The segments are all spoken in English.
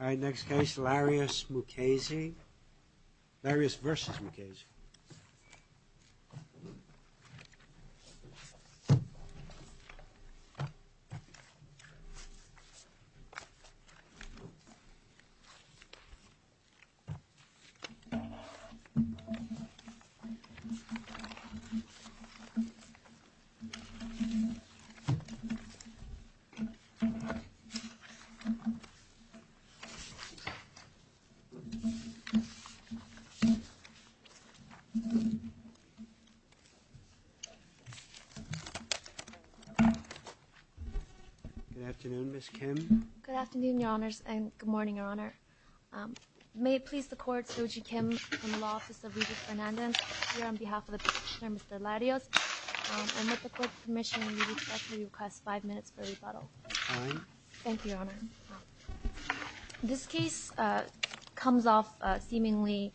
All right, next case, Larios v. Mukasey. Larios v. Mukasey. Good afternoon, Ms. Kim. Good afternoon, Your Honors, and good morning, Your Honor. May it please the Court, Soji Kim from the Law Office of Regis Fernandez, here on behalf of the petitioner, Mr. Larios. And with the Court's permission, we would like to request five minutes for rebuttal. Fine. Thank you, Your Honor. This case comes off seemingly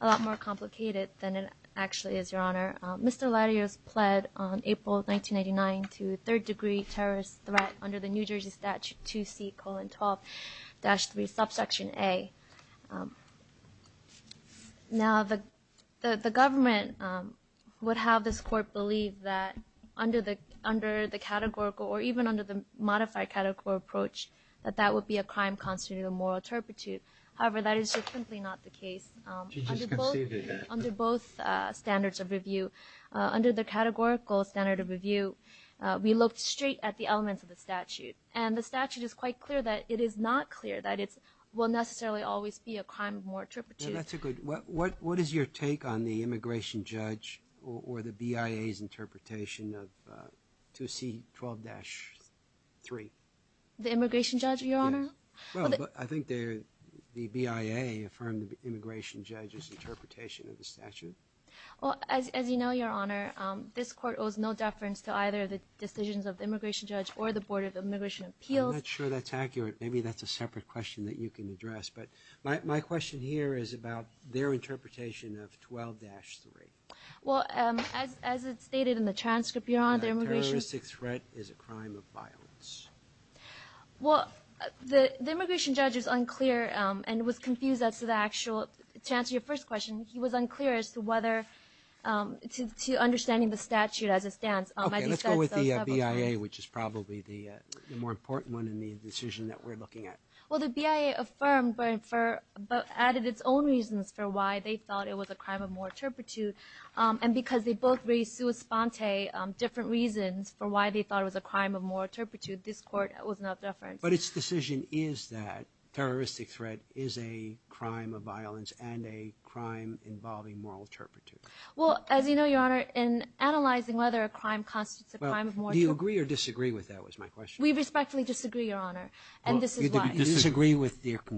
a lot more complicated than it actually is, Your Honor. Mr. Larios pled on April 1999 to third-degree terrorist threat under the New Jersey Statute 2C, colon, 12-3, subsection A. Now, the government would have this Court believe that under the categorical, or even under the modified categorical approach, that that would be a crime constituting a moral turpitude. However, that is simply not the case. She just conceded that. Under both standards of review, under the categorical standard of review, we looked straight at the elements of the statute. And the statute is quite clear that it is not clear that it will necessarily always be a crime of moral turpitude. What is your take on the immigration judge or the BIA's interpretation of 2C, 12-3? The immigration judge, Your Honor? Well, I think the BIA affirmed the immigration judge's interpretation of the statute. Well, as you know, Your Honor, this Court owes no deference to either the decisions of the immigration judge or the Board of Immigration Appeals. I'm not sure that's accurate. Maybe that's a separate question that you can address. But my question here is about their interpretation of 12-3. Well, as it's stated in the transcript, Your Honor, the immigration – That a terroristic threat is a crime of violence. Well, the immigration judge is unclear and was confused as to the actual – to answer your first question, he was unclear as to whether – to understanding the statute as it stands. Okay, let's go with the BIA, which is probably the more important one in the decision that we're looking at. Well, the BIA affirmed but added its own reasons for why they thought it was a crime of moral turpitude. And because they both raised sua sponte different reasons for why they thought it was a crime of moral turpitude, this Court owes no deference. But its decision is that terroristic threat is a crime of violence and a crime involving moral turpitude. Well, as you know, Your Honor, in analyzing whether a crime constitutes a crime of moral – Well, do you agree or disagree with that was my question. We respectfully disagree, Your Honor, and this is why. You disagree with their –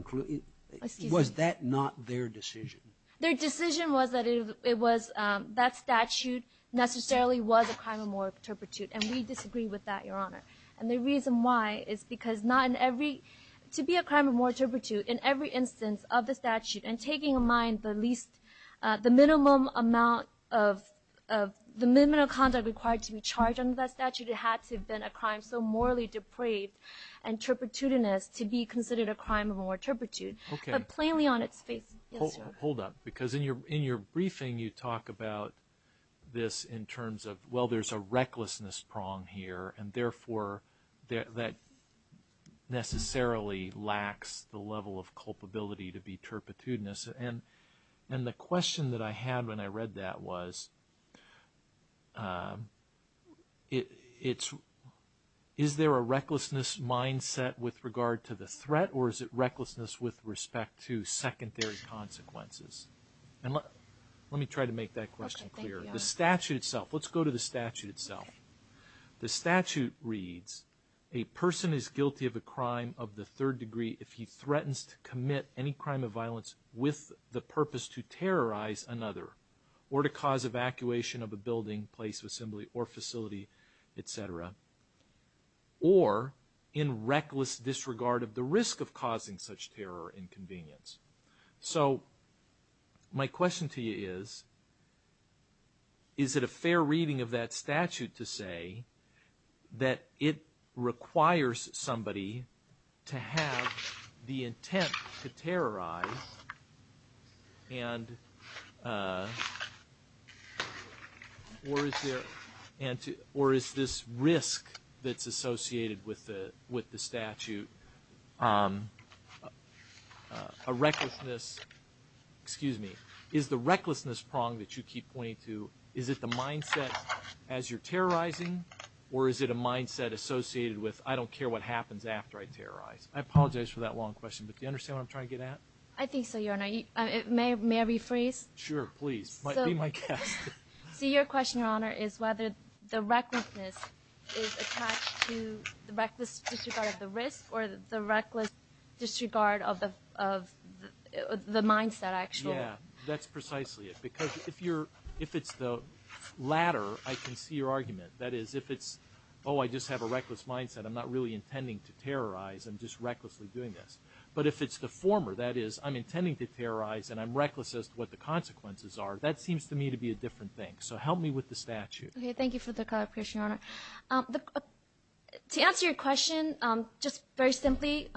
was that not their decision? Their decision was that it was – that statute necessarily was a crime of moral turpitude, and we disagree with that, Your Honor. And the reason why is because not in every – to be a crime of moral turpitude in every instance of the statute and taking in mind the least – the minimum amount of – the minimum amount of conduct required to be charged under that statute, it had to have been a crime so morally depraved and turpitudinous to be considered a crime of moral turpitude. Okay. But plainly on its face, yes, Your Honor. Hold up, because in your briefing, you talk about this in terms of, well, there's a recklessness prong here, and therefore that necessarily lacks the level of culpability to be turpitudinous. And the question that I had when I read that was it's – is there a recklessness mindset with regard to the threat or is it recklessness with respect to secondary consequences? And let me try to make that question clear. Okay, thank you, Your Honor. The statute itself – let's go to the statute itself. Okay. The statute reads, a person is guilty of a crime of the third degree if he threatens to commit any crime of violence with the purpose to terrorize another or to cause evacuation of a building, place of assembly, or facility, et cetera, or in reckless disregard of the risk of causing such terror or inconvenience. So my question to you is, is it a fair reading of that statute to say that it requires somebody to have the intent to terrorize and – or is there – or is this risk that's associated with the statute a recklessness – excuse me. Is the recklessness prong that you keep pointing to, is it the mindset as you're terrorizing or is it a mindset associated with I don't care what happens after I terrorize? I apologize for that long question, but do you understand what I'm trying to get at? I think so, Your Honor. May I rephrase? Sure, please. Be my guest. So your question, Your Honor, is whether the recklessness is attached to the reckless disregard of the risk or the reckless disregard of the mindset actually. Yeah, that's precisely it. Because if you're – if it's the latter, I can see your argument. That is, if it's, oh, I just have a reckless mindset, I'm not really intending to terrorize, I'm just recklessly doing this. But if it's the former, that is, I'm intending to terrorize and I'm reckless as to what the consequences are, that seems to me to be a different thing. So help me with the statute. Okay, thank you for the clarification, Your Honor. To answer your question, just very simply,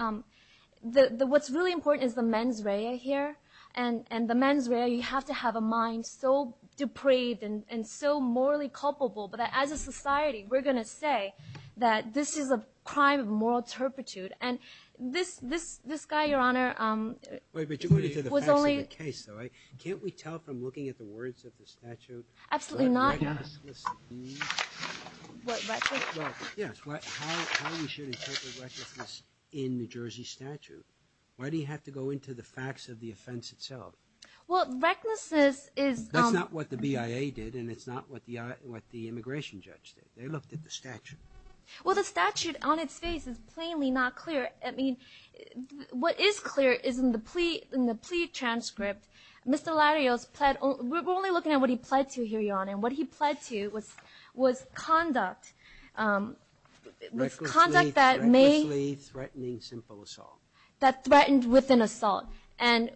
what's really important is the mens rea here. And the mens rea, you have to have a mind so depraved and so morally culpable that as a society, we're going to say that this is a crime of moral turpitude. And this guy, Your Honor, was only – Wait, but you're going into the facts of the case, though, right? Can't we tell from looking at the words of the statute? Absolutely not, Your Honor. What, recklessness? Yes, how we should interpret recklessness in the Jersey statute. Why do you have to go into the facts of the offense itself? Well, recklessness is – They looked at the statute. Well, the statute on its face is plainly not clear. I mean, what is clear is in the plea – in the plea transcript, Mr. Larios pled – we're only looking at what he pled to here, Your Honor. And what he pled to was conduct. Conduct that may – Recklessly threatening simple assault. That threatened with an assault. And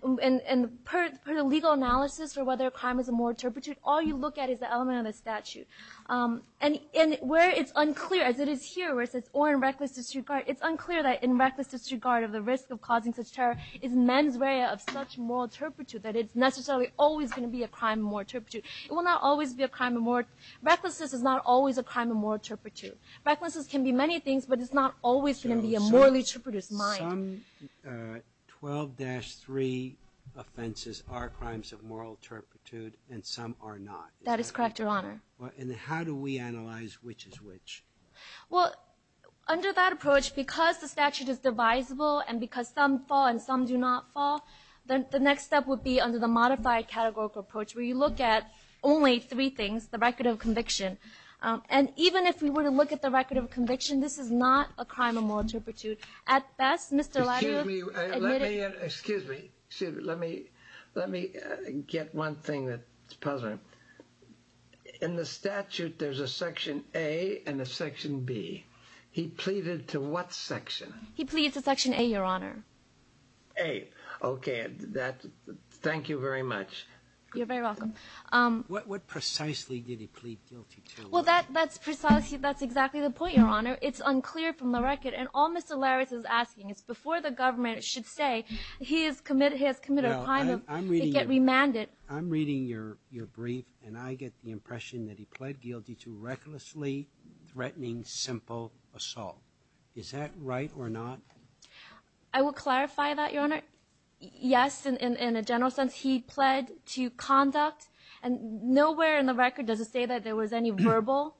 per the legal analysis for whether a crime is a moral turpitude, all you look at is the element of the statute. And where it's unclear, as it is here, where it says, or in reckless disregard, it's unclear that in reckless disregard of the risk of causing such terror is mens rea of such moral turpitude that it's necessarily always going to be a crime of moral turpitude. It will not always be a crime of moral – Recklessness is not always a crime of moral turpitude. Recklessness can be many things, but it's not always going to be a morally turpidus mind. Some 12-3 offenses are crimes of moral turpitude, and some are not. That is correct, Your Honor. And how do we analyze which is which? Well, under that approach, because the statute is divisible and because some fall and some do not fall, the next step would be under the modified categorical approach where you look at only three things, the record of conviction. And even if we were to look at the record of conviction, this is not a crime of moral turpitude. At best, Mr. Latimer admitted – Excuse me. Let me get one thing that's puzzling. In the statute, there's a Section A and a Section B. He pleaded to what section? He pleaded to Section A, Your Honor. A. Okay. Thank you very much. You're very welcome. What precisely did he plead guilty to? Well, that's precisely – that's exactly the point, Your Honor. It's unclear from the record, and all Mr. Larris is asking is before the government should say he has committed a crime of – and I get the impression that he pled guilty to recklessly threatening simple assault. Is that right or not? I will clarify that, Your Honor. Yes, in a general sense, he pled to conduct. And nowhere in the record does it say that there was any verbal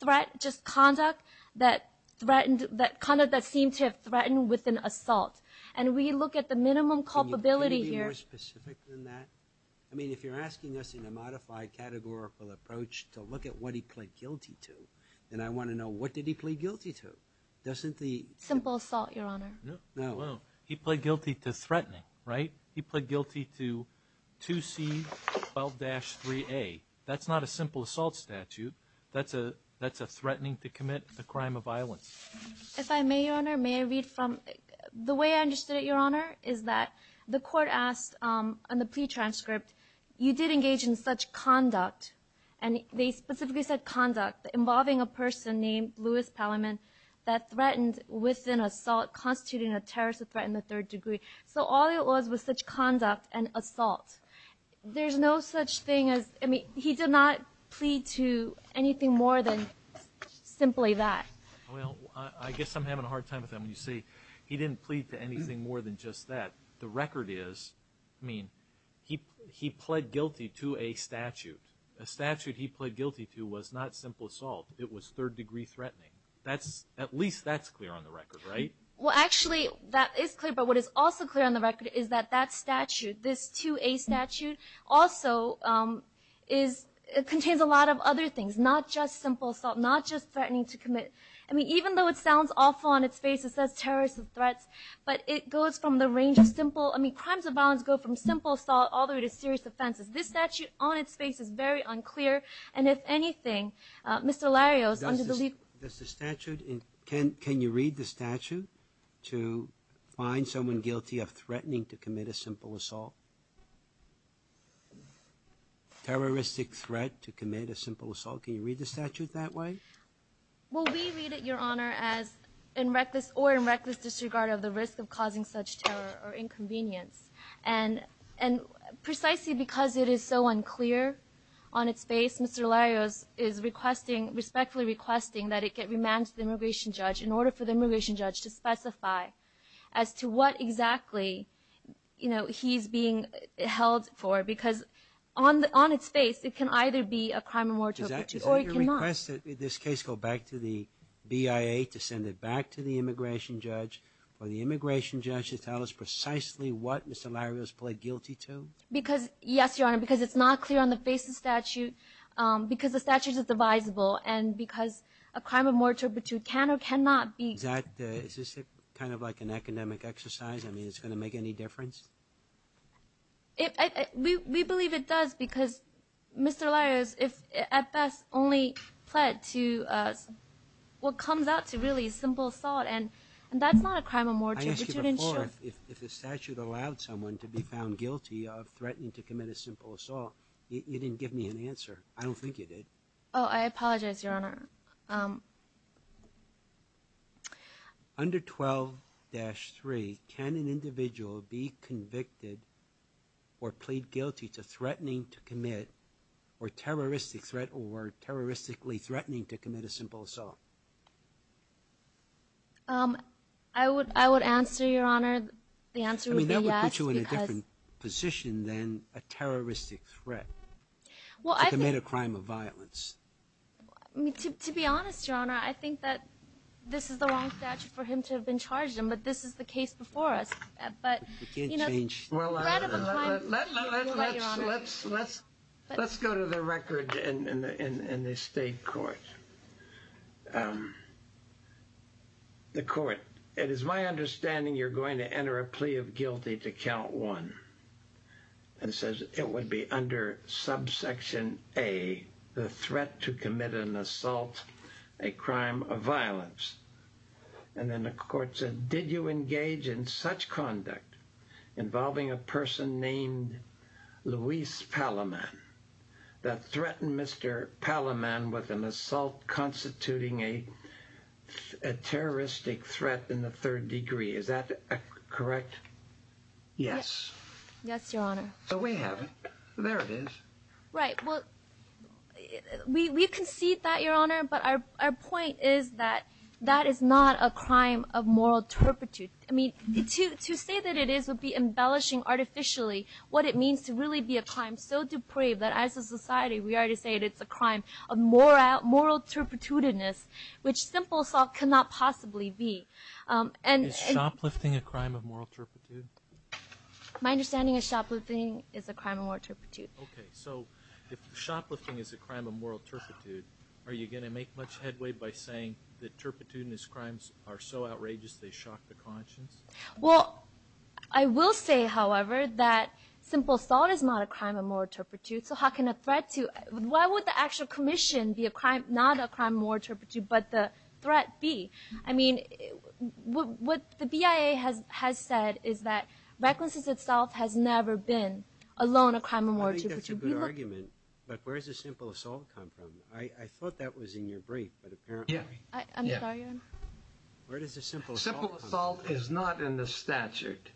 threat, just conduct that threatened – conduct that seemed to have threatened with an assault. And we look at the minimum culpability here – Can you be more specific than that? I mean, if you're asking us in a modified categorical approach to look at what he pled guilty to, then I want to know what did he plead guilty to. Doesn't the – Simple assault, Your Honor. No. He pled guilty to threatening, right? He pled guilty to 2C12-3A. That's not a simple assault statute. That's a threatening to commit a crime of violence. If I may, Your Honor, may I read from – The way I understood it, Your Honor, is that the court asked on the plea transcript, you did engage in such conduct – and they specifically said conduct – involving a person named Louis Pelliman that threatened with an assault, constituting a terrorist threat in the third degree. So all it was was such conduct and assault. There's no such thing as – I mean, he did not plead to anything more than simply that. Well, I guess I'm having a hard time with that when you say he didn't plead to anything more than just that. The record is, I mean, he pled guilty to a statute. A statute he pled guilty to was not simple assault. It was third-degree threatening. At least that's clear on the record, right? Well, actually, that is clear. But what is also clear on the record is that that statute, this 2A statute, also contains a lot of other things, not just simple assault, not just threatening to commit – I mean, even though it sounds awful on its face, it says terrorist threats, but it goes from the range of simple – I mean, crimes of violence go from simple assault all the way to serious offenses. This statute on its face is very unclear. And if anything, Mr. Larios, under the – Does the statute – can you read the statute to find someone guilty of threatening to commit a simple assault? Terroristic threat to commit a simple assault. Can you read the statute that way? Well, we read it, Your Honor, as in reckless or in reckless disregard of the risk of causing such terror or inconvenience. And precisely because it is so unclear on its face, Mr. Larios is requesting – respectfully requesting that it get remanded to the immigration judge in order for the immigration judge to specify as to what exactly, you know, he's being held for. Because on its face, it can either be a crime of moratorium or it cannot. Is that your request, that this case go back to the BIA to send it back to the immigration judge for the immigration judge to tell us precisely what Mr. Larios pled guilty to? Because – yes, Your Honor, because it's not clear on the face of the statute, because the statute is divisible, and because a crime of moratorium can or cannot be – Is that – is this kind of like an academic exercise? I mean, is it going to make any difference? We believe it does because Mr. Larios, if at best, only pled to what comes out to really simple assault, and that's not a crime of moratorium. I asked you before if the statute allowed someone to be found guilty of threatening to commit a simple assault. You didn't give me an answer. I don't think you did. Oh, I apologize, Your Honor. Under 12-3, can an individual be convicted or plead guilty to threatening to commit or terroristic threat or terroristically threatening to commit a simple assault? I would answer, Your Honor, the answer would be yes because – I mean, that would put you in a different position than a terroristic threat to commit a crime of violence. To be honest, Your Honor, I think that this is the wrong statute for him to have been charged in, but this is the case before us. You can't change – Well, let's go to the record in the state court. The court – it is my understanding you're going to enter a plea of guilty to count one. It says it would be under subsection A, the threat to commit an assault, a crime of violence. And then the court said, did you engage in such conduct involving a person named Luis Palaman that threatened Mr. Palaman with an assault constituting a terroristic threat in the third degree? Is that correct? Yes. Yes, Your Honor. So we have it. There it is. Right. Well, we concede that, Your Honor, but our point is that that is not a crime of moral turpitude. I mean, to say that it is would be embellishing artificially what it means to really be a crime so depraved that as a society we already say that it's a crime of moral turpitude, which simple assault cannot possibly be. Is shoplifting a crime of moral turpitude? My understanding is shoplifting is a crime of moral turpitude. Okay, so if shoplifting is a crime of moral turpitude, are you going to make much headway by saying that turpitude and its crimes are so outrageous they shock the conscience? Well, I will say, however, that simple assault is not a crime of moral turpitude, so how can a threat to – why would the actual commission be not a crime of moral turpitude but the threat be? I mean, what the BIA has said is that recklessness itself has never been alone a crime of moral turpitude. I think that's a good argument, but where does a simple assault come from? I thought that was in your brief, but apparently. Yeah. I'm sorry, Your Honor. Where does a simple assault come from? Simple assault is not in the statute.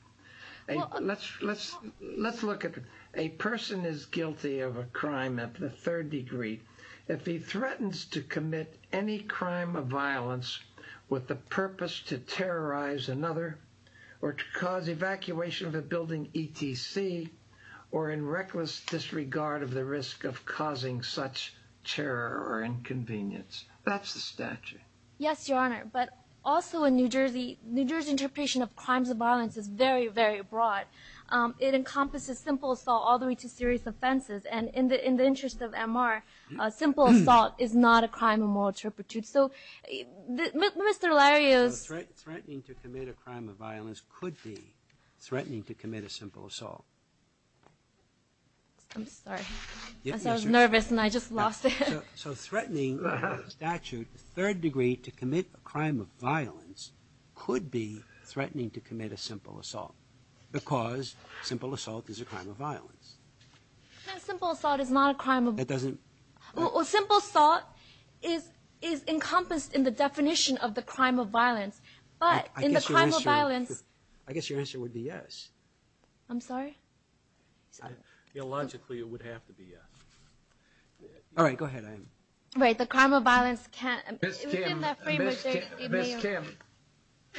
Let's look at a person is guilty of a crime at the third degree. If he threatens to commit any crime of violence with the purpose to terrorize another or to cause evacuation of a building ETC or in reckless disregard of the risk of causing such terror or inconvenience. That's the statute. Yes, Your Honor, but also in New Jersey, New Jersey interpretation of crimes of violence is very, very broad. It encompasses simple assault all the way to serious offenses, and in the interest of MR, simple assault is not a crime of moral turpitude. So Mr. Larios. Threatening to commit a crime of violence could be threatening to commit a simple assault. I'm sorry. I was nervous and I just lost it. So threatening statute third degree to commit a crime of violence could be threatening to commit a simple assault because simple assault is a crime of violence. Simple assault is not a crime. It doesn't. Simple assault is is encompassed in the definition of the crime of violence, but in the crime of violence. I guess your answer would be yes. I'm sorry. Logically, it would have to be yes. All right, go ahead. Wait, the crime of violence can't. Miss Kim. Miss Kim.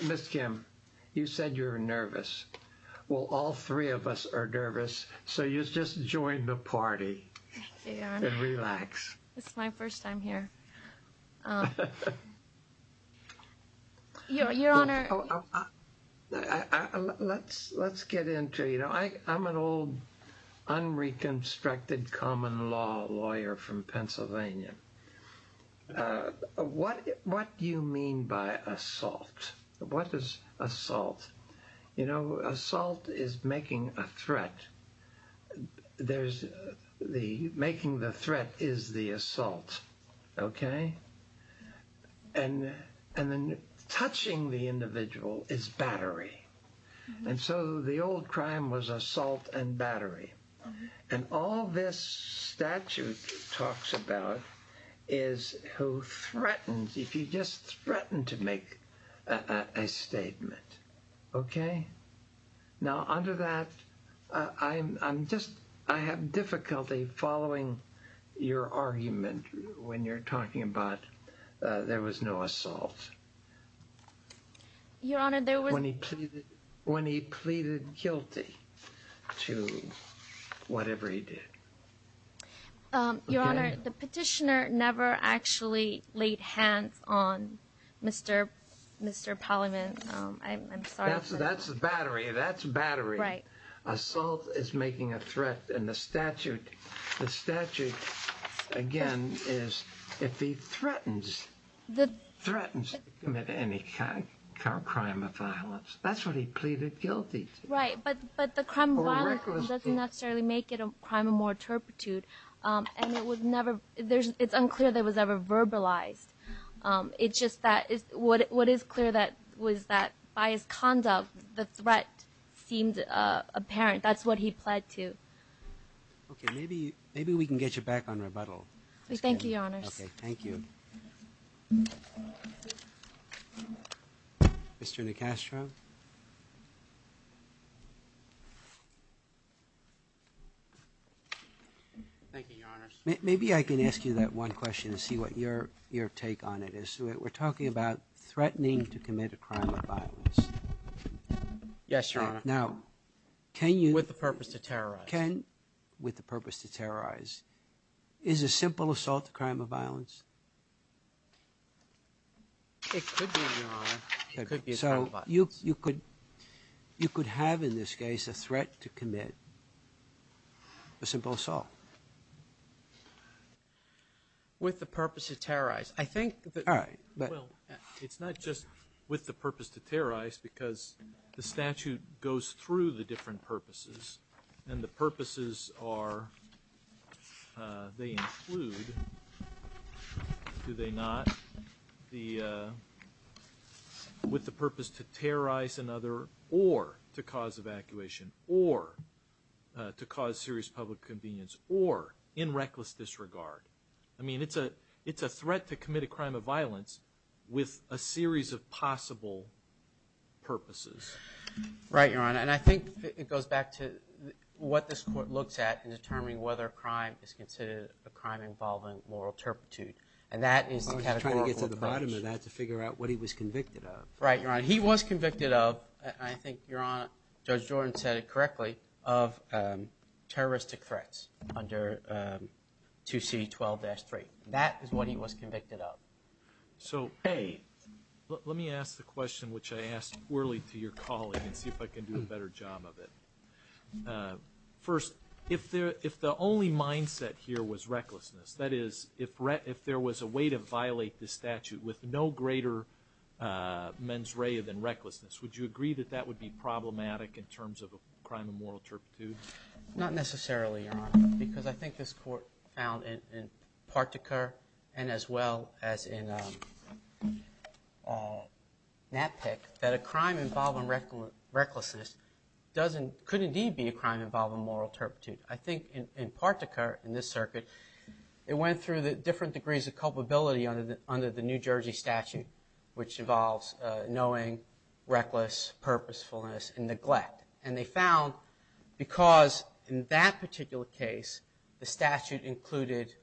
Miss Kim, you said you're nervous. Well, all three of us are nervous. So you just join the party and relax. It's my first time here. Your Honor. Let's let's get into, you know, I I'm an old unreconstructed common law lawyer from Pennsylvania. What what do you mean by assault? What is assault? You know, assault is making a threat. There's the making the threat is the assault. OK, and and then touching the individual is battery. And so the old crime was assault and battery. And all this statute talks about is who threatens if you just threaten to make a statement. OK, now under that, I'm just I have difficulty following your argument when you're talking about there was no assault. Your Honor, there was when he pleaded when he pleaded guilty to whatever he did. Your Honor, the petitioner never actually laid hands on Mr. Mr. Pollyman. I'm sorry. That's the battery. That's battery. Right. Assault is making a threat. And the statute, the statute, again, is if he threatens that threatens to commit any kind of crime of violence. That's what he pleaded guilty. Right. But but the crime doesn't necessarily make it a crime of more turpitude. And it was never there. It's unclear that was ever verbalized. It's just that what is clear that was that by his conduct, the threat seemed apparent. That's what he pled to. OK, maybe maybe we can get you back on rebuttal. Thank you, Your Honor. Thank you. Mr. Nicastro. Thank you, Your Honor. Maybe I can ask you that one question to see what your your take on it is. We're talking about threatening to commit a crime of violence. Yes, Your Honor. Now, can you. With the purpose to terrorize. Can with the purpose to terrorize. Is a simple assault a crime of violence? It could be, Your Honor. It could be a crime of violence. So you could you could have in this case a threat to commit a simple assault. With the purpose to terrorize. I think that. All right. Well, it's not just with the purpose to terrorize because the statute goes through the different purposes and the purposes are. They include. Do they not? The. With the purpose to terrorize another or to cause evacuation or to cause serious public convenience or in reckless disregard. I mean, it's a it's a threat to commit a crime of violence with a series of possible. Purposes. Right, Your Honor. And I think it goes back to what this court looks at in determining whether a crime is considered a crime involving moral turpitude. And that is. Trying to get to the bottom of that to figure out what he was convicted of. Right, Your Honor. He was convicted of. I think you're on. Judge Jordan said it correctly of terroristic threats under 2C12-3. That is what he was convicted of. So, hey, let me ask the question which I asked poorly to your colleague and see if I can do a better job of it. First, if there if the only mindset here was recklessness, that is, if if there was a way to violate the statute with no greater mens rea than recklessness. Would you agree that that would be problematic in terms of a crime of moral turpitude? Not necessarily, Your Honor. Because I think this court found in Partaker and as well as in NatPIC that a crime involving recklessness doesn't could indeed be a crime involving moral turpitude. I think in Partaker, in this circuit, it went through the different degrees of culpability under the New Jersey statute, which involves knowing, reckless, purposefulness, and neglect. And they found because in that particular case the statute included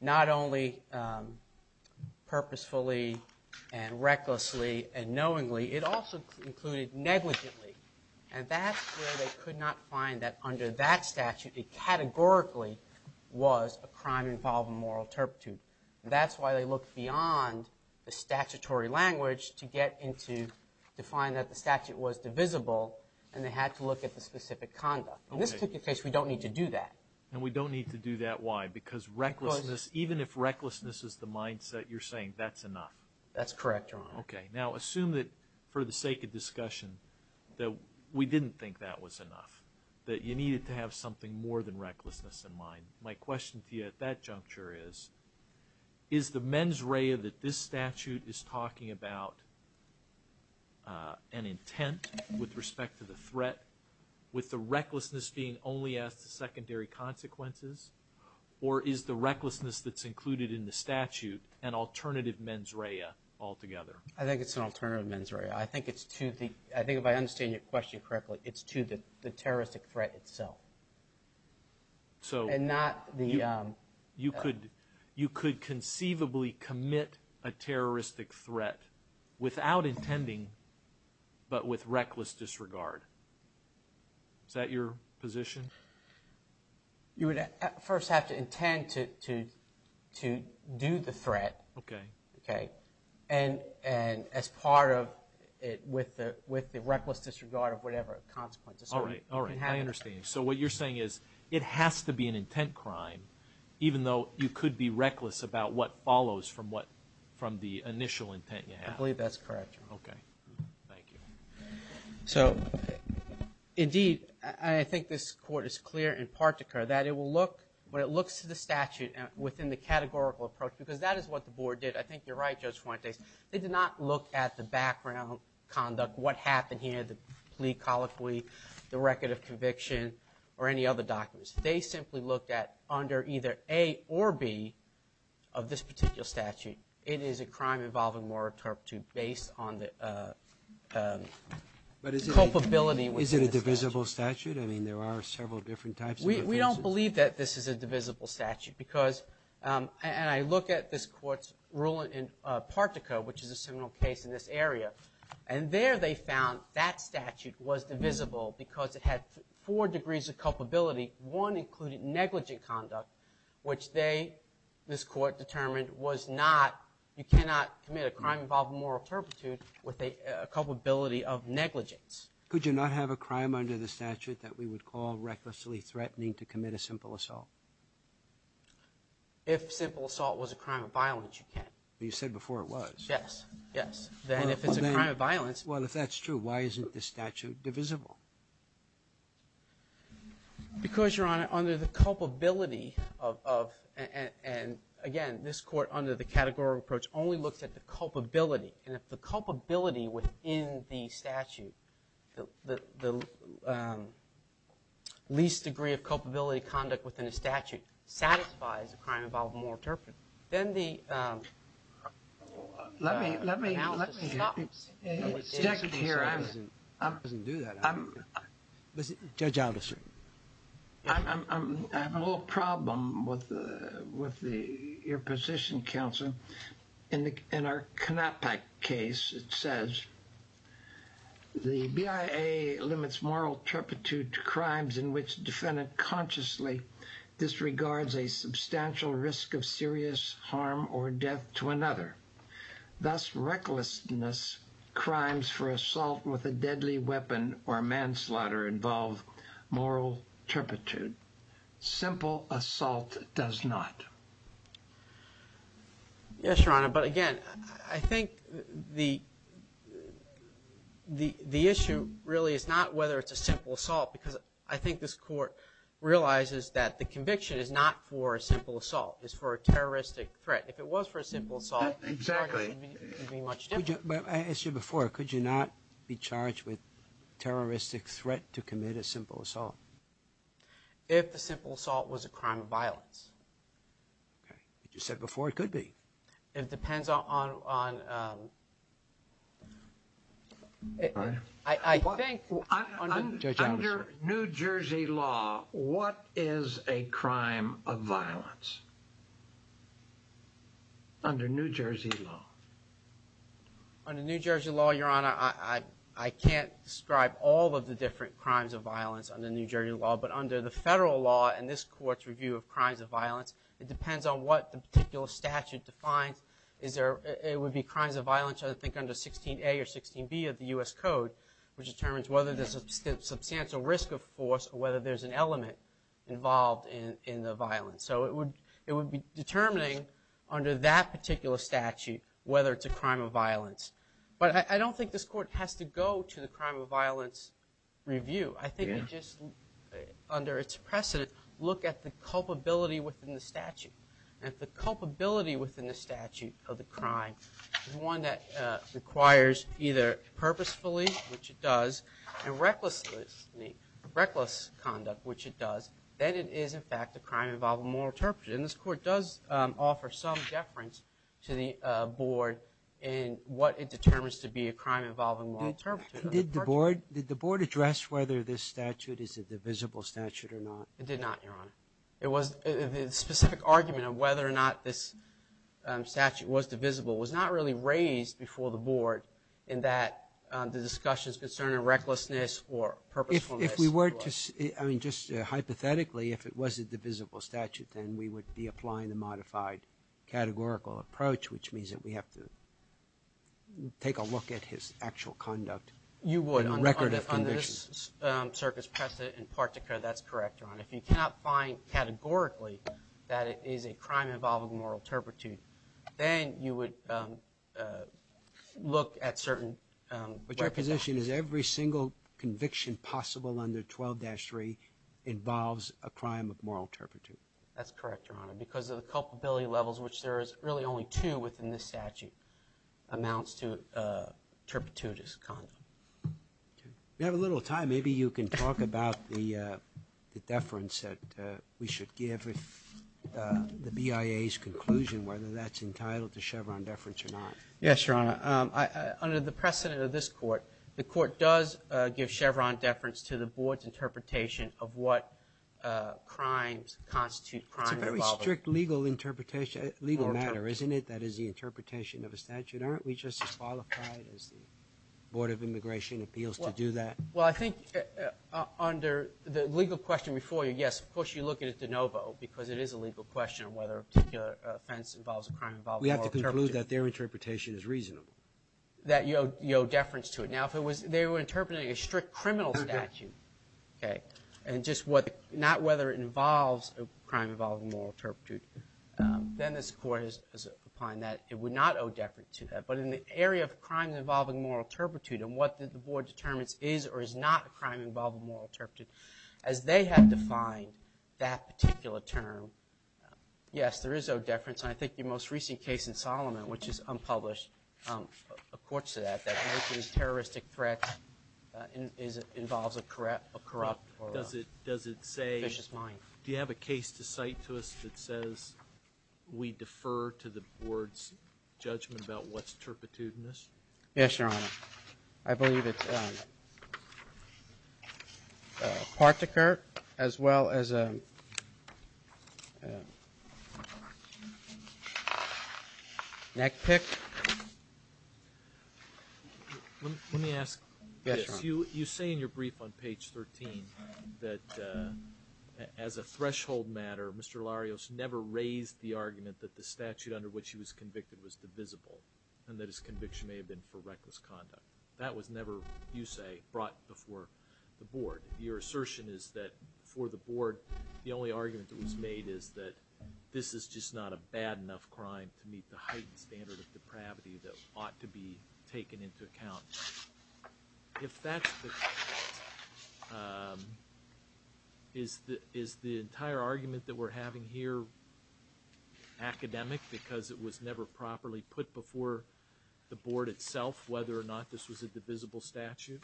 not only purposefully and recklessly and knowingly, it also included negligently. And that's where they could not find that under that statute it categorically was a crime involving moral turpitude. That's why they looked beyond the statutory language to get into, to find that the statute was divisible and they had to look at the specific conduct. In this particular case, we don't need to do that. And we don't need to do that. Why? Because recklessness, even if recklessness is the mindset, you're saying that's enough. That's correct, Your Honor. Okay. Now, assume that for the sake of discussion that we didn't think that was enough, that you needed to have something more than recklessness in mind. My question to you at that juncture is, is the mens rea that this statute is talking about an intent with respect to the threat, with the recklessness being only as the secondary consequences, or is the recklessness that's included in the statute an alternative mens rea altogether? I think it's an alternative mens rea. I think it's to the – I think if I understand your question correctly, it's to the terroristic threat itself. So you could conceivably commit a terroristic threat without intending, but with reckless disregard. Is that your position? You would first have to intend to do the threat. Okay. Okay. And as part of it with the reckless disregard of whatever consequences. All right. I understand. So what you're saying is it has to be an intent crime, even though you could be reckless about what follows from what – from the initial intent you have. I believe that's correct, Your Honor. Okay. Thank you. So, indeed, I think this Court is clear in particular that it will look – when it looks to the statute within the categorical approach, because that is what the Board did. I think you're right, Judge Fuentes. They did not look at the background conduct, what happened here, the plea colloquy, the record of conviction, or any other documents. They simply looked at under either A or B of this particular statute, it is a crime involving moral turpitude based on the culpability within the statute. But is it a divisible statute? I mean, there are several different types of offenses. We don't believe that this is a divisible statute because – and I look at this Court's ruling in Partico, which is a similar case in this area. And there they found that statute was divisible because it had four degrees of culpability. One included negligent conduct, which they – this Court determined was not – you cannot commit a crime involving moral turpitude with a culpability of negligence. Could you not have a crime under the statute that we would call recklessly threatening to commit a simple assault? If simple assault was a crime of violence, you can. You said before it was. Yes. Yes. Then if it's a crime of violence – Well, if that's true, why isn't this statute divisible? Because, Your Honor, under the culpability of – and again, this Court under the categorical approach only looks at the culpability. And if the culpability within the statute, the least degree of culpability of conduct within a statute satisfies a crime involving moral turpitude, then the analysis stops. Let me – let me – let me – I wasn't here. I wasn't due that. I'm – Judge Alder, sir. I'm – I have a little problem with the – with the – your position, counsel. In our Kanapak case, it says, the BIA limits moral turpitude to crimes in which defendant consciously disregards a substantial risk of serious harm or death to another. Thus, recklessness crimes for assault with a deadly weapon or manslaughter involve moral turpitude. Simple assault does not. Yes, Your Honor, but again, I think the – the issue really is not whether it's a simple assault because I think this Court realizes that the conviction is not for a simple assault. It's for a terroristic threat. If it was for a simple assault… Exactly. …it would be much different. But I asked you before, could you not be charged with terroristic threat to commit a simple assault? If the simple assault was a crime of violence. Okay. But you said before it could be. It depends on – on – I think… Under New Jersey law, what is a crime of violence? Under New Jersey law. Under New Jersey law, Your Honor, I – I can't describe all of the different crimes of violence under New Jersey law, but under the federal law and this Court's review of crimes of violence, it depends on what the particular statute defines. Is there – it would be crimes of violence, I think, under 16A or 16B of the U.S. Code, which determines whether there's a substantial risk of force or whether there's an element involved in – in the violence. So it would – it would be determining under that particular statute whether it's a crime of violence. But I don't think this Court has to go to the crime of violence review. I think we just, under its precedent, look at the culpability within the statute. And if the culpability within the statute of the crime is one that requires either purposefully, which it does, and recklessly – reckless conduct, which it does, then it is, in fact, a crime involving moral turpitude. And this Court does offer some deference to the Board in what it determines to be a crime involving moral turpitude. Did the Board – did the Board address whether this statute is a divisible statute or not? It did not, Your Honor. It was – the specific argument of whether or not this statute was divisible was not really raised before the Board in that the discussions concerning recklessness or purposefulness were – If we were to – I mean, just hypothetically, if it was a divisible statute, then we would be applying the modified categorical approach, which means that we have to take a look at his actual conduct on record of conviction. You would. Under this circuit's precedent in particular, that's correct, Your Honor. If you cannot find categorically that it is a crime involving moral turpitude, then you would look at certain – But your position is every single conviction possible under 12-3 involves a crime of moral turpitude. That's correct, Your Honor, because of the culpability levels, which there is really only two within this statute amounts to turpitude as a condom. We have a little time. Maybe you can talk about the deference that we should give if the BIA's conclusion, whether that's entitled to Chevron deference or not. Yes, Your Honor. Under the precedent of this court, the court does give Chevron deference to the Board's interpretation of what crimes constitute crime involving moral turpitude. It's a very strict legal interpretation – legal matter, isn't it, that is the interpretation of a statute? Aren't we just as qualified as the Board of Immigration appeals to do that? Well, I think under the legal question before you, yes, of course you look at it de novo because it is a legal question on whether a particular offense involves a crime involving moral turpitude. We have to conclude that their interpretation is reasonable. That you owe deference to it. Now, if they were interpreting a strict criminal statute, okay, and just not whether it involves a crime involving moral turpitude, then this court is applying that it would not owe deference to that. But in the area of crimes involving moral turpitude and what the Board determines is or is not a crime involving moral turpitude, as they have defined that particular term, yes, there is owed deference. And I think your most recent case in Solomon, which is unpublished, accords to that, that motion's terroristic threat involves a corrupt or a vicious mind. Do you have a case to cite to us that says we defer to the Board's judgment about what's turpitudinous? Yes, Your Honor. I believe it's a part to Kurt as well as a neck pick. Let me ask this. You say in your brief on page 13 that as a threshold matter, Mr. Larios never raised the argument that the statute under which he was convicted was divisible and that his conviction may have been for reckless conduct. That was never, you say, brought before the Board. Your assertion is that for the Board, the only argument that was made is that this is just not a bad enough crime to meet the heightened standard of depravity that ought to be taken into account. If that's the case, is the entire argument that we're having here academic because it was never properly put before the Board itself, whether or not this was a divisible statute?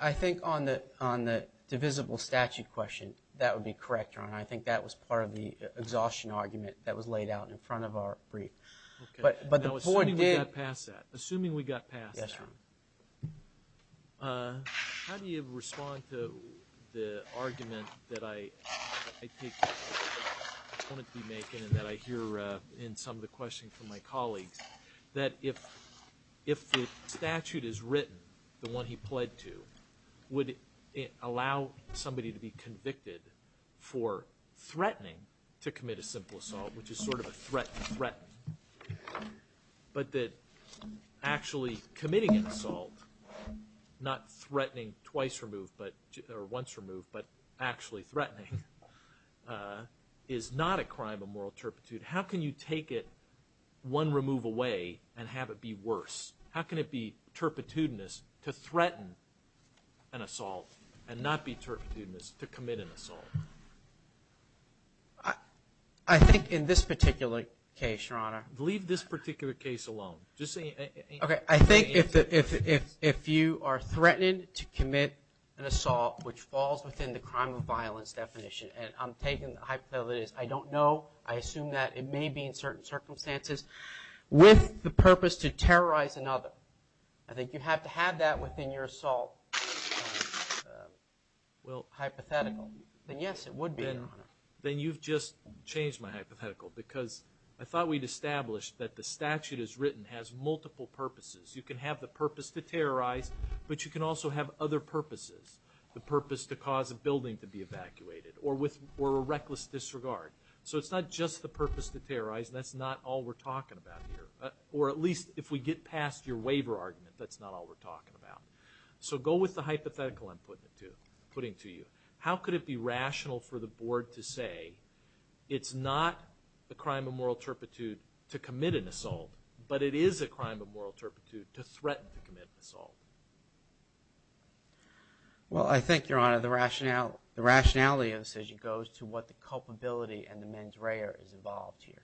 I think on the divisible statute question, that would be correct, Your Honor. I think that was part of the exhaustion argument that was laid out in front of our brief. Assuming we got past that, how do you respond to the argument that I hear in some of the questions from my colleagues that if the statute is written, the one he pled to, would it allow somebody to be convicted for threatening to commit a simple assault, which is sort of a threat to threaten, but that actually committing an assault, not threatening twice removed or once removed, but actually threatening, is not a crime of moral turpitude. How can you take it one remove away and have it be worse? How can it be turpitudinous to threaten an assault and not be turpitudinous to commit an assault? I think in this particular case, Your Honor. Leave this particular case alone. Okay. I think if you are threatened to commit an assault, which falls within the crime of violence definition, and I'm taking the hypothesis, I don't know, I assume that it may be in certain circumstances, with the purpose to terrorize another, I think you have to have that within your assault hypothetical. Yes, it would be, Your Honor. Then you've just changed my hypothetical, because I thought we'd established that the statute as written has multiple purposes. You can have the purpose to terrorize, but you can also have other purposes, the purpose to cause a building to be evacuated or a reckless disregard. So it's not just the purpose to terrorize, and that's not all we're talking about here, or at least if we get past your waiver argument, that's not all we're talking about. So go with the hypothetical I'm putting to you. How could it be rational for the Board to say it's not the crime of moral turpitude to commit an assault, but it is a crime of moral turpitude to threaten to commit an assault? Well, I think, Your Honor, the rationality of the decision goes to what the culpability and the mens rea is involved here,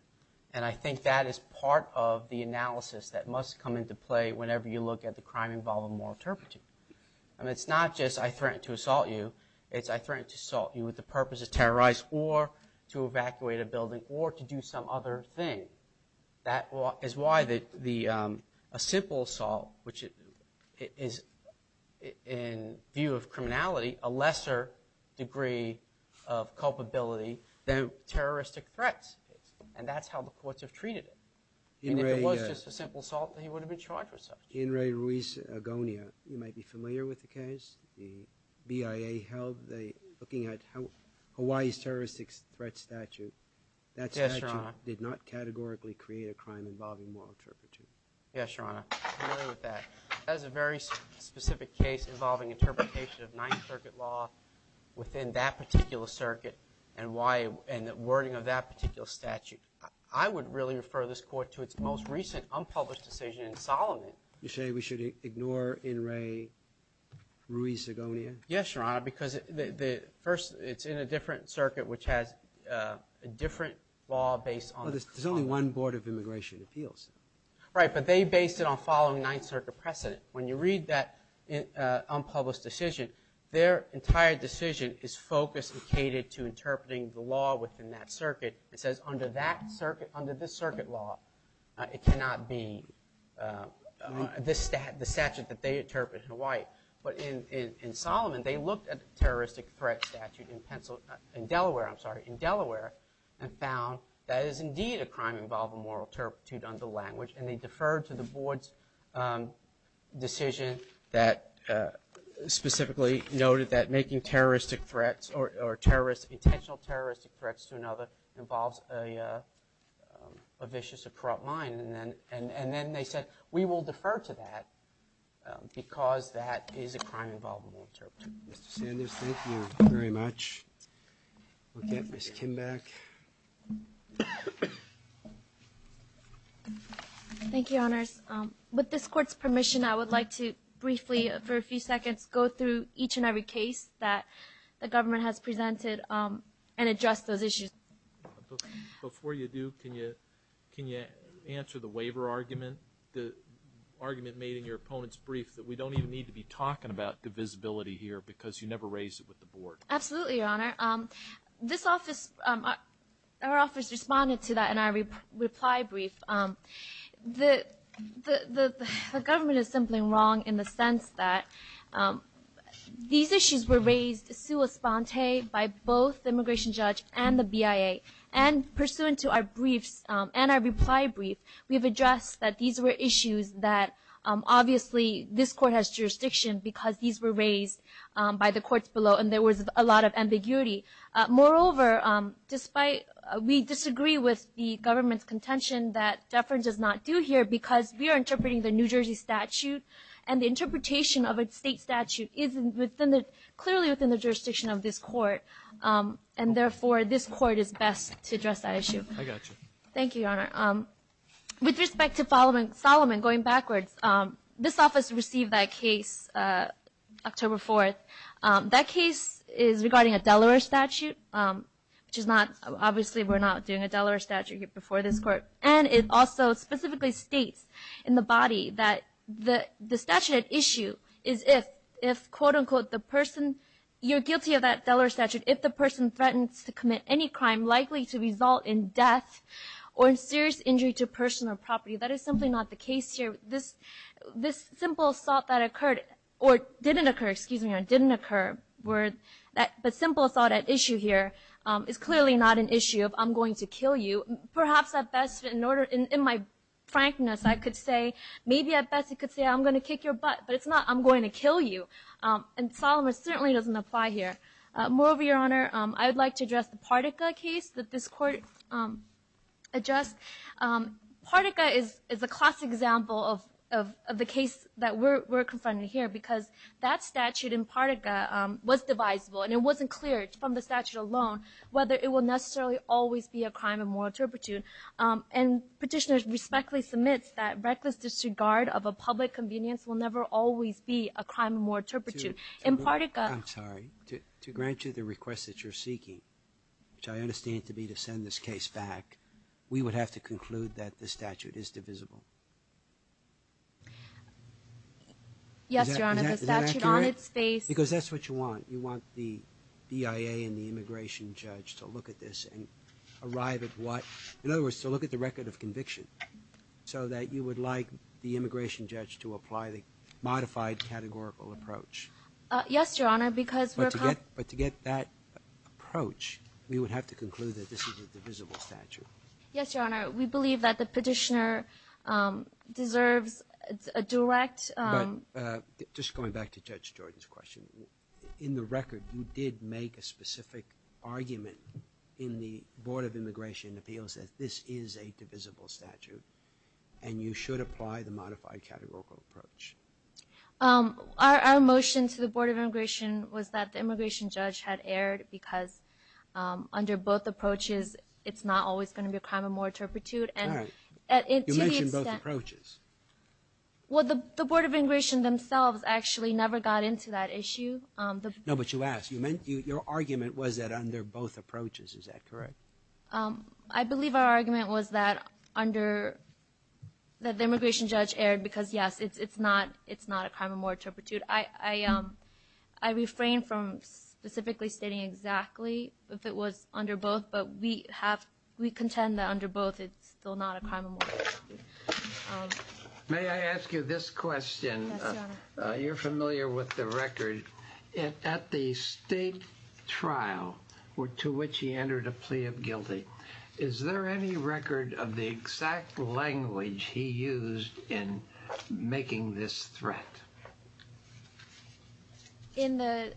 and I think that is part of the analysis that must come into play whenever you look at the crime involved in moral turpitude. I mean, it's not just I threatened to assault you, it's I threatened to assault you with the purpose to terrorize or to evacuate a building or to do some other thing. That is why a simple assault, which is, in view of criminality, a lesser degree of culpability than terroristic threats, and that's how the courts have treated it. I mean, if it was just a simple assault, he would have been charged with such. In Ray Ruiz Agonia, you might be familiar with the case the BIA held looking at Hawaii's terroristic threat statute. That statute did not categorically create a crime involving moral turpitude. Yes, Your Honor, I'm familiar with that. That is a very specific case involving interpretation of Ninth Circuit law within that particular circuit and the wording of that particular statute. I would really refer this Court to its most recent unpublished decision in Solomon. You're saying we should ignore in Ray Ruiz Agonia? Yes, Your Honor, because first it's in a different circuit which has a different law based on the crime. There's only one Board of Immigration Appeals. Right, but they based it on following Ninth Circuit precedent. When you read that unpublished decision, their entire decision is focused and catered to interpreting the law within that circuit. It says under this circuit law, it cannot be the statute that they interpret in Hawaii. But in Solomon, they looked at the terroristic threat statute in Delaware and found that it is indeed a crime involving moral turpitude under language, and they deferred to the Board's decision that specifically noted that making terroristic threats or intentional terroristic threats to another involves a vicious or corrupt mind. And then they said, we will defer to that because that is a crime involving moral turpitude. Mr. Sanders, thank you very much. We'll get Ms. Kim back. Thank you, Honors. With this Court's permission, I would like to briefly, for a few seconds, go through each and every case that the government has presented and address those issues. Before you do, can you answer the waiver argument, the argument made in your opponent's brief that we don't even need to be talking about divisibility here because you never raised it with the Board. Absolutely, Your Honor. This office, our office responded to that in our reply brief. The government is simply wrong in the sense that these issues were raised sua sponte by both the immigration judge and the BIA. And pursuant to our briefs and our reply brief, we have addressed that these were issues that obviously this Court has jurisdiction because these were raised by the courts below, and there was a lot of ambiguity. Moreover, we disagree with the government's contention that deference is not due here because we are interpreting the New Jersey statute, and the interpretation of a state statute is clearly within the jurisdiction of this Court, and therefore this Court is best to address that issue. I got you. Thank you, Your Honor. With respect to Solomon, going backwards, this office received that case October 4th. That case is regarding a Delaware statute, which is not, obviously we're not doing a Delaware statute before this Court, and it also specifically states in the body that the statute at issue is if, quote-unquote, the person, you're guilty of that Delaware statute if the person threatens to commit any crime likely to result in death or in serious injury to personal property. That is simply not the case here. This simple assault that occurred, or didn't occur, excuse me, or didn't occur, but simple assault at issue here is clearly not an issue of I'm going to kill you. Perhaps at best, in my frankness, I could say, maybe at best you could say I'm going to kick your butt, but it's not I'm going to kill you. And Solomon certainly doesn't apply here. Moreover, Your Honor, I would like to address the Partica case that this Court addressed. Partica is a classic example of the case that we're confronting here because that statute in Partica was divisible, and it wasn't clear from the statute alone whether it will necessarily always be a crime of moral turpitude. And Petitioner respectfully submits that reckless disregard of a public convenience will never always be a crime of moral turpitude. In Partica to grant you the request that you're seeking, which I understand to be to send this case back, we would have to conclude that the statute is divisible. Yes, Your Honor. Is that accurate? The statute on its face. Because that's what you want. You want the BIA and the immigration judge to look at this and arrive at what? In other words, to look at the record of conviction, so that you would like the immigration judge to apply the modified categorical approach. Yes, Your Honor, because we're approach, we would have to conclude that this is a divisible statute. Yes, Your Honor. We believe that the Petitioner deserves a direct. But just going back to Judge Jordan's question, in the record you did make a specific argument in the Board of Immigration Appeals that this is a divisible statute, and you should apply the modified categorical approach. Our motion to the Board of Immigration was that the immigration judge had erred because under both approaches, it's not always going to be a crime of more turpitude. All right. You mentioned both approaches. Well, the Board of Immigration themselves actually never got into that issue. No, but you asked. Your argument was that under both approaches. Is that correct? I believe our argument was that the immigration judge erred because, yes, it's not a crime of more turpitude. I refrain from specifically stating exactly if it was under both, but we contend that under both, it's still not a crime of more turpitude. May I ask you this question? Yes, Your Honor. You're familiar with the record. At the state trial to which he entered a plea of guilty, is there any record of the exact language he used in making this threat? In the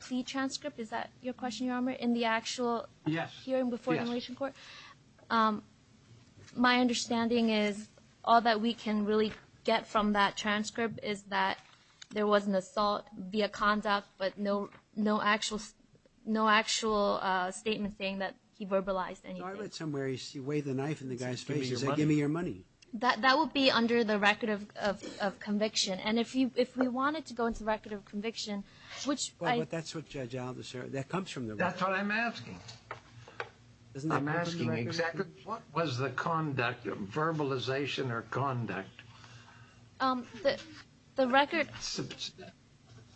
plea transcript, is that your question, Your Honor, in the actual hearing before the immigration court? Yes. My understanding is all that we can really get from that transcript is that there was an assault via conduct, but no actual statement saying that he verbalized anything. So I read somewhere he weighed the knife in the guy's face. He said, give me your money. That would be under the record of conviction. And if we wanted to go into the record of conviction, which I – But that's what Judge Aldo said. That comes from the record. That's what I'm asking. I'm asking exactly what was the conduct, verbalization or conduct? The record,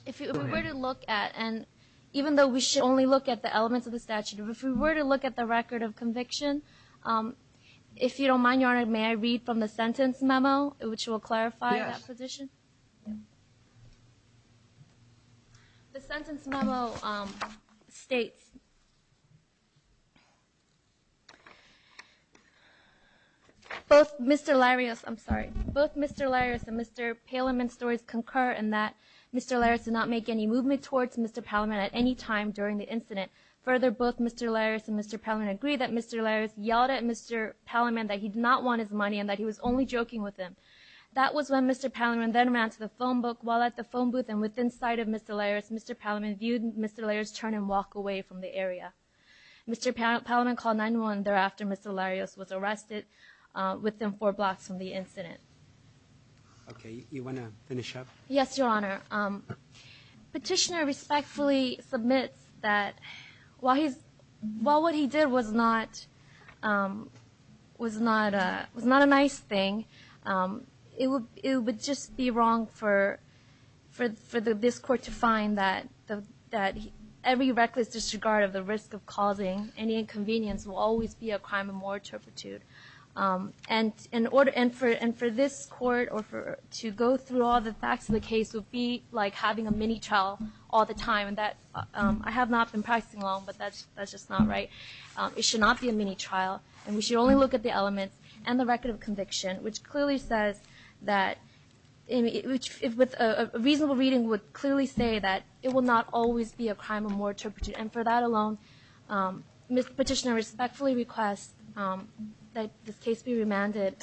if we were to look at, and even though we should only look at the elements of the statute, if we were to look at the record of conviction, if you don't mind, Your Honor, may I read from the sentence memo, which will clarify that position? Yes. The sentence memo states, Both Mr. Larios – I'm sorry. Both Mr. Larios and Mr. Palaman's stories concur in that Mr. Larios did not make any movement towards Mr. Palaman at any time during the incident. Further, both Mr. Larios and Mr. Palaman agreed that Mr. Larios yelled at Mr. Palaman that he did not want his money and that he was only joking with him. That was when Mr. Palaman then ran to the phone book. While at the phone booth and within sight of Mr. Larios, Mr. Palaman viewed Mr. Larios turn and walk away from the area. Mr. Palaman called 911. Thereafter, Mr. Larios was arrested within four blocks from the incident. Okay. You want to finish up? Yes, Your Honor. Petitioner respectfully submits that while what he did was not a nice thing, it would just be wrong for this Court to find that every reckless disregard of the risk of causing any inconvenience will always be a crime of moral turpitude. And for this Court to go through all the facts of the case would be like having a mini trial all the time. I have not been practicing law, but that's just not right. It should not be a mini trial, and we should only look at the elements and the record of conviction, which clearly says that – a reasonable reading would clearly say that it will not always be a crime of moral turpitude. And for that alone, Mr. Petitioner respectfully requests that this case be remanded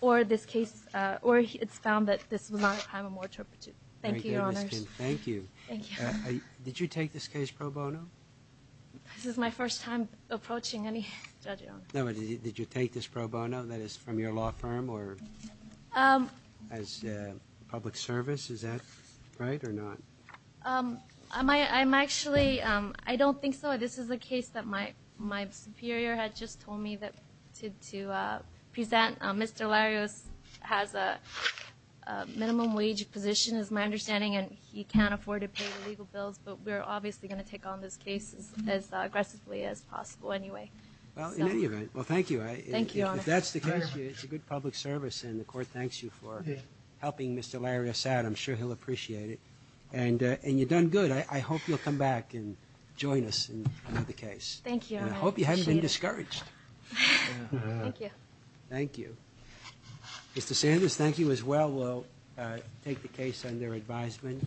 or it's found that this was not a crime of moral turpitude. Thank you, Your Honors. Thank you. Thank you. Did you take this case pro bono? This is my first time approaching any judge, Your Honor. No, but did you take this pro bono, that is, from your law firm or as public service? Is that right or not? I'm actually – I don't think so. This is a case that my superior had just told me to present. Mr. Larios has a minimum wage position, is my understanding, and he can't afford to pay the legal bills, but we're obviously going to take on this case as aggressively as possible anyway. Well, in any event, well, thank you. Thank you, Your Honor. If that's the case, it's a good public service, and the Court thanks you for helping Mr. Larios out. I'm sure he'll appreciate it. And you've done good. I hope you'll come back and join us in another case. Thank you, Your Honor. I hope you haven't been discouraged. Thank you. Thank you. Mr. Sanders, thank you as well. We'll take the case under advisement.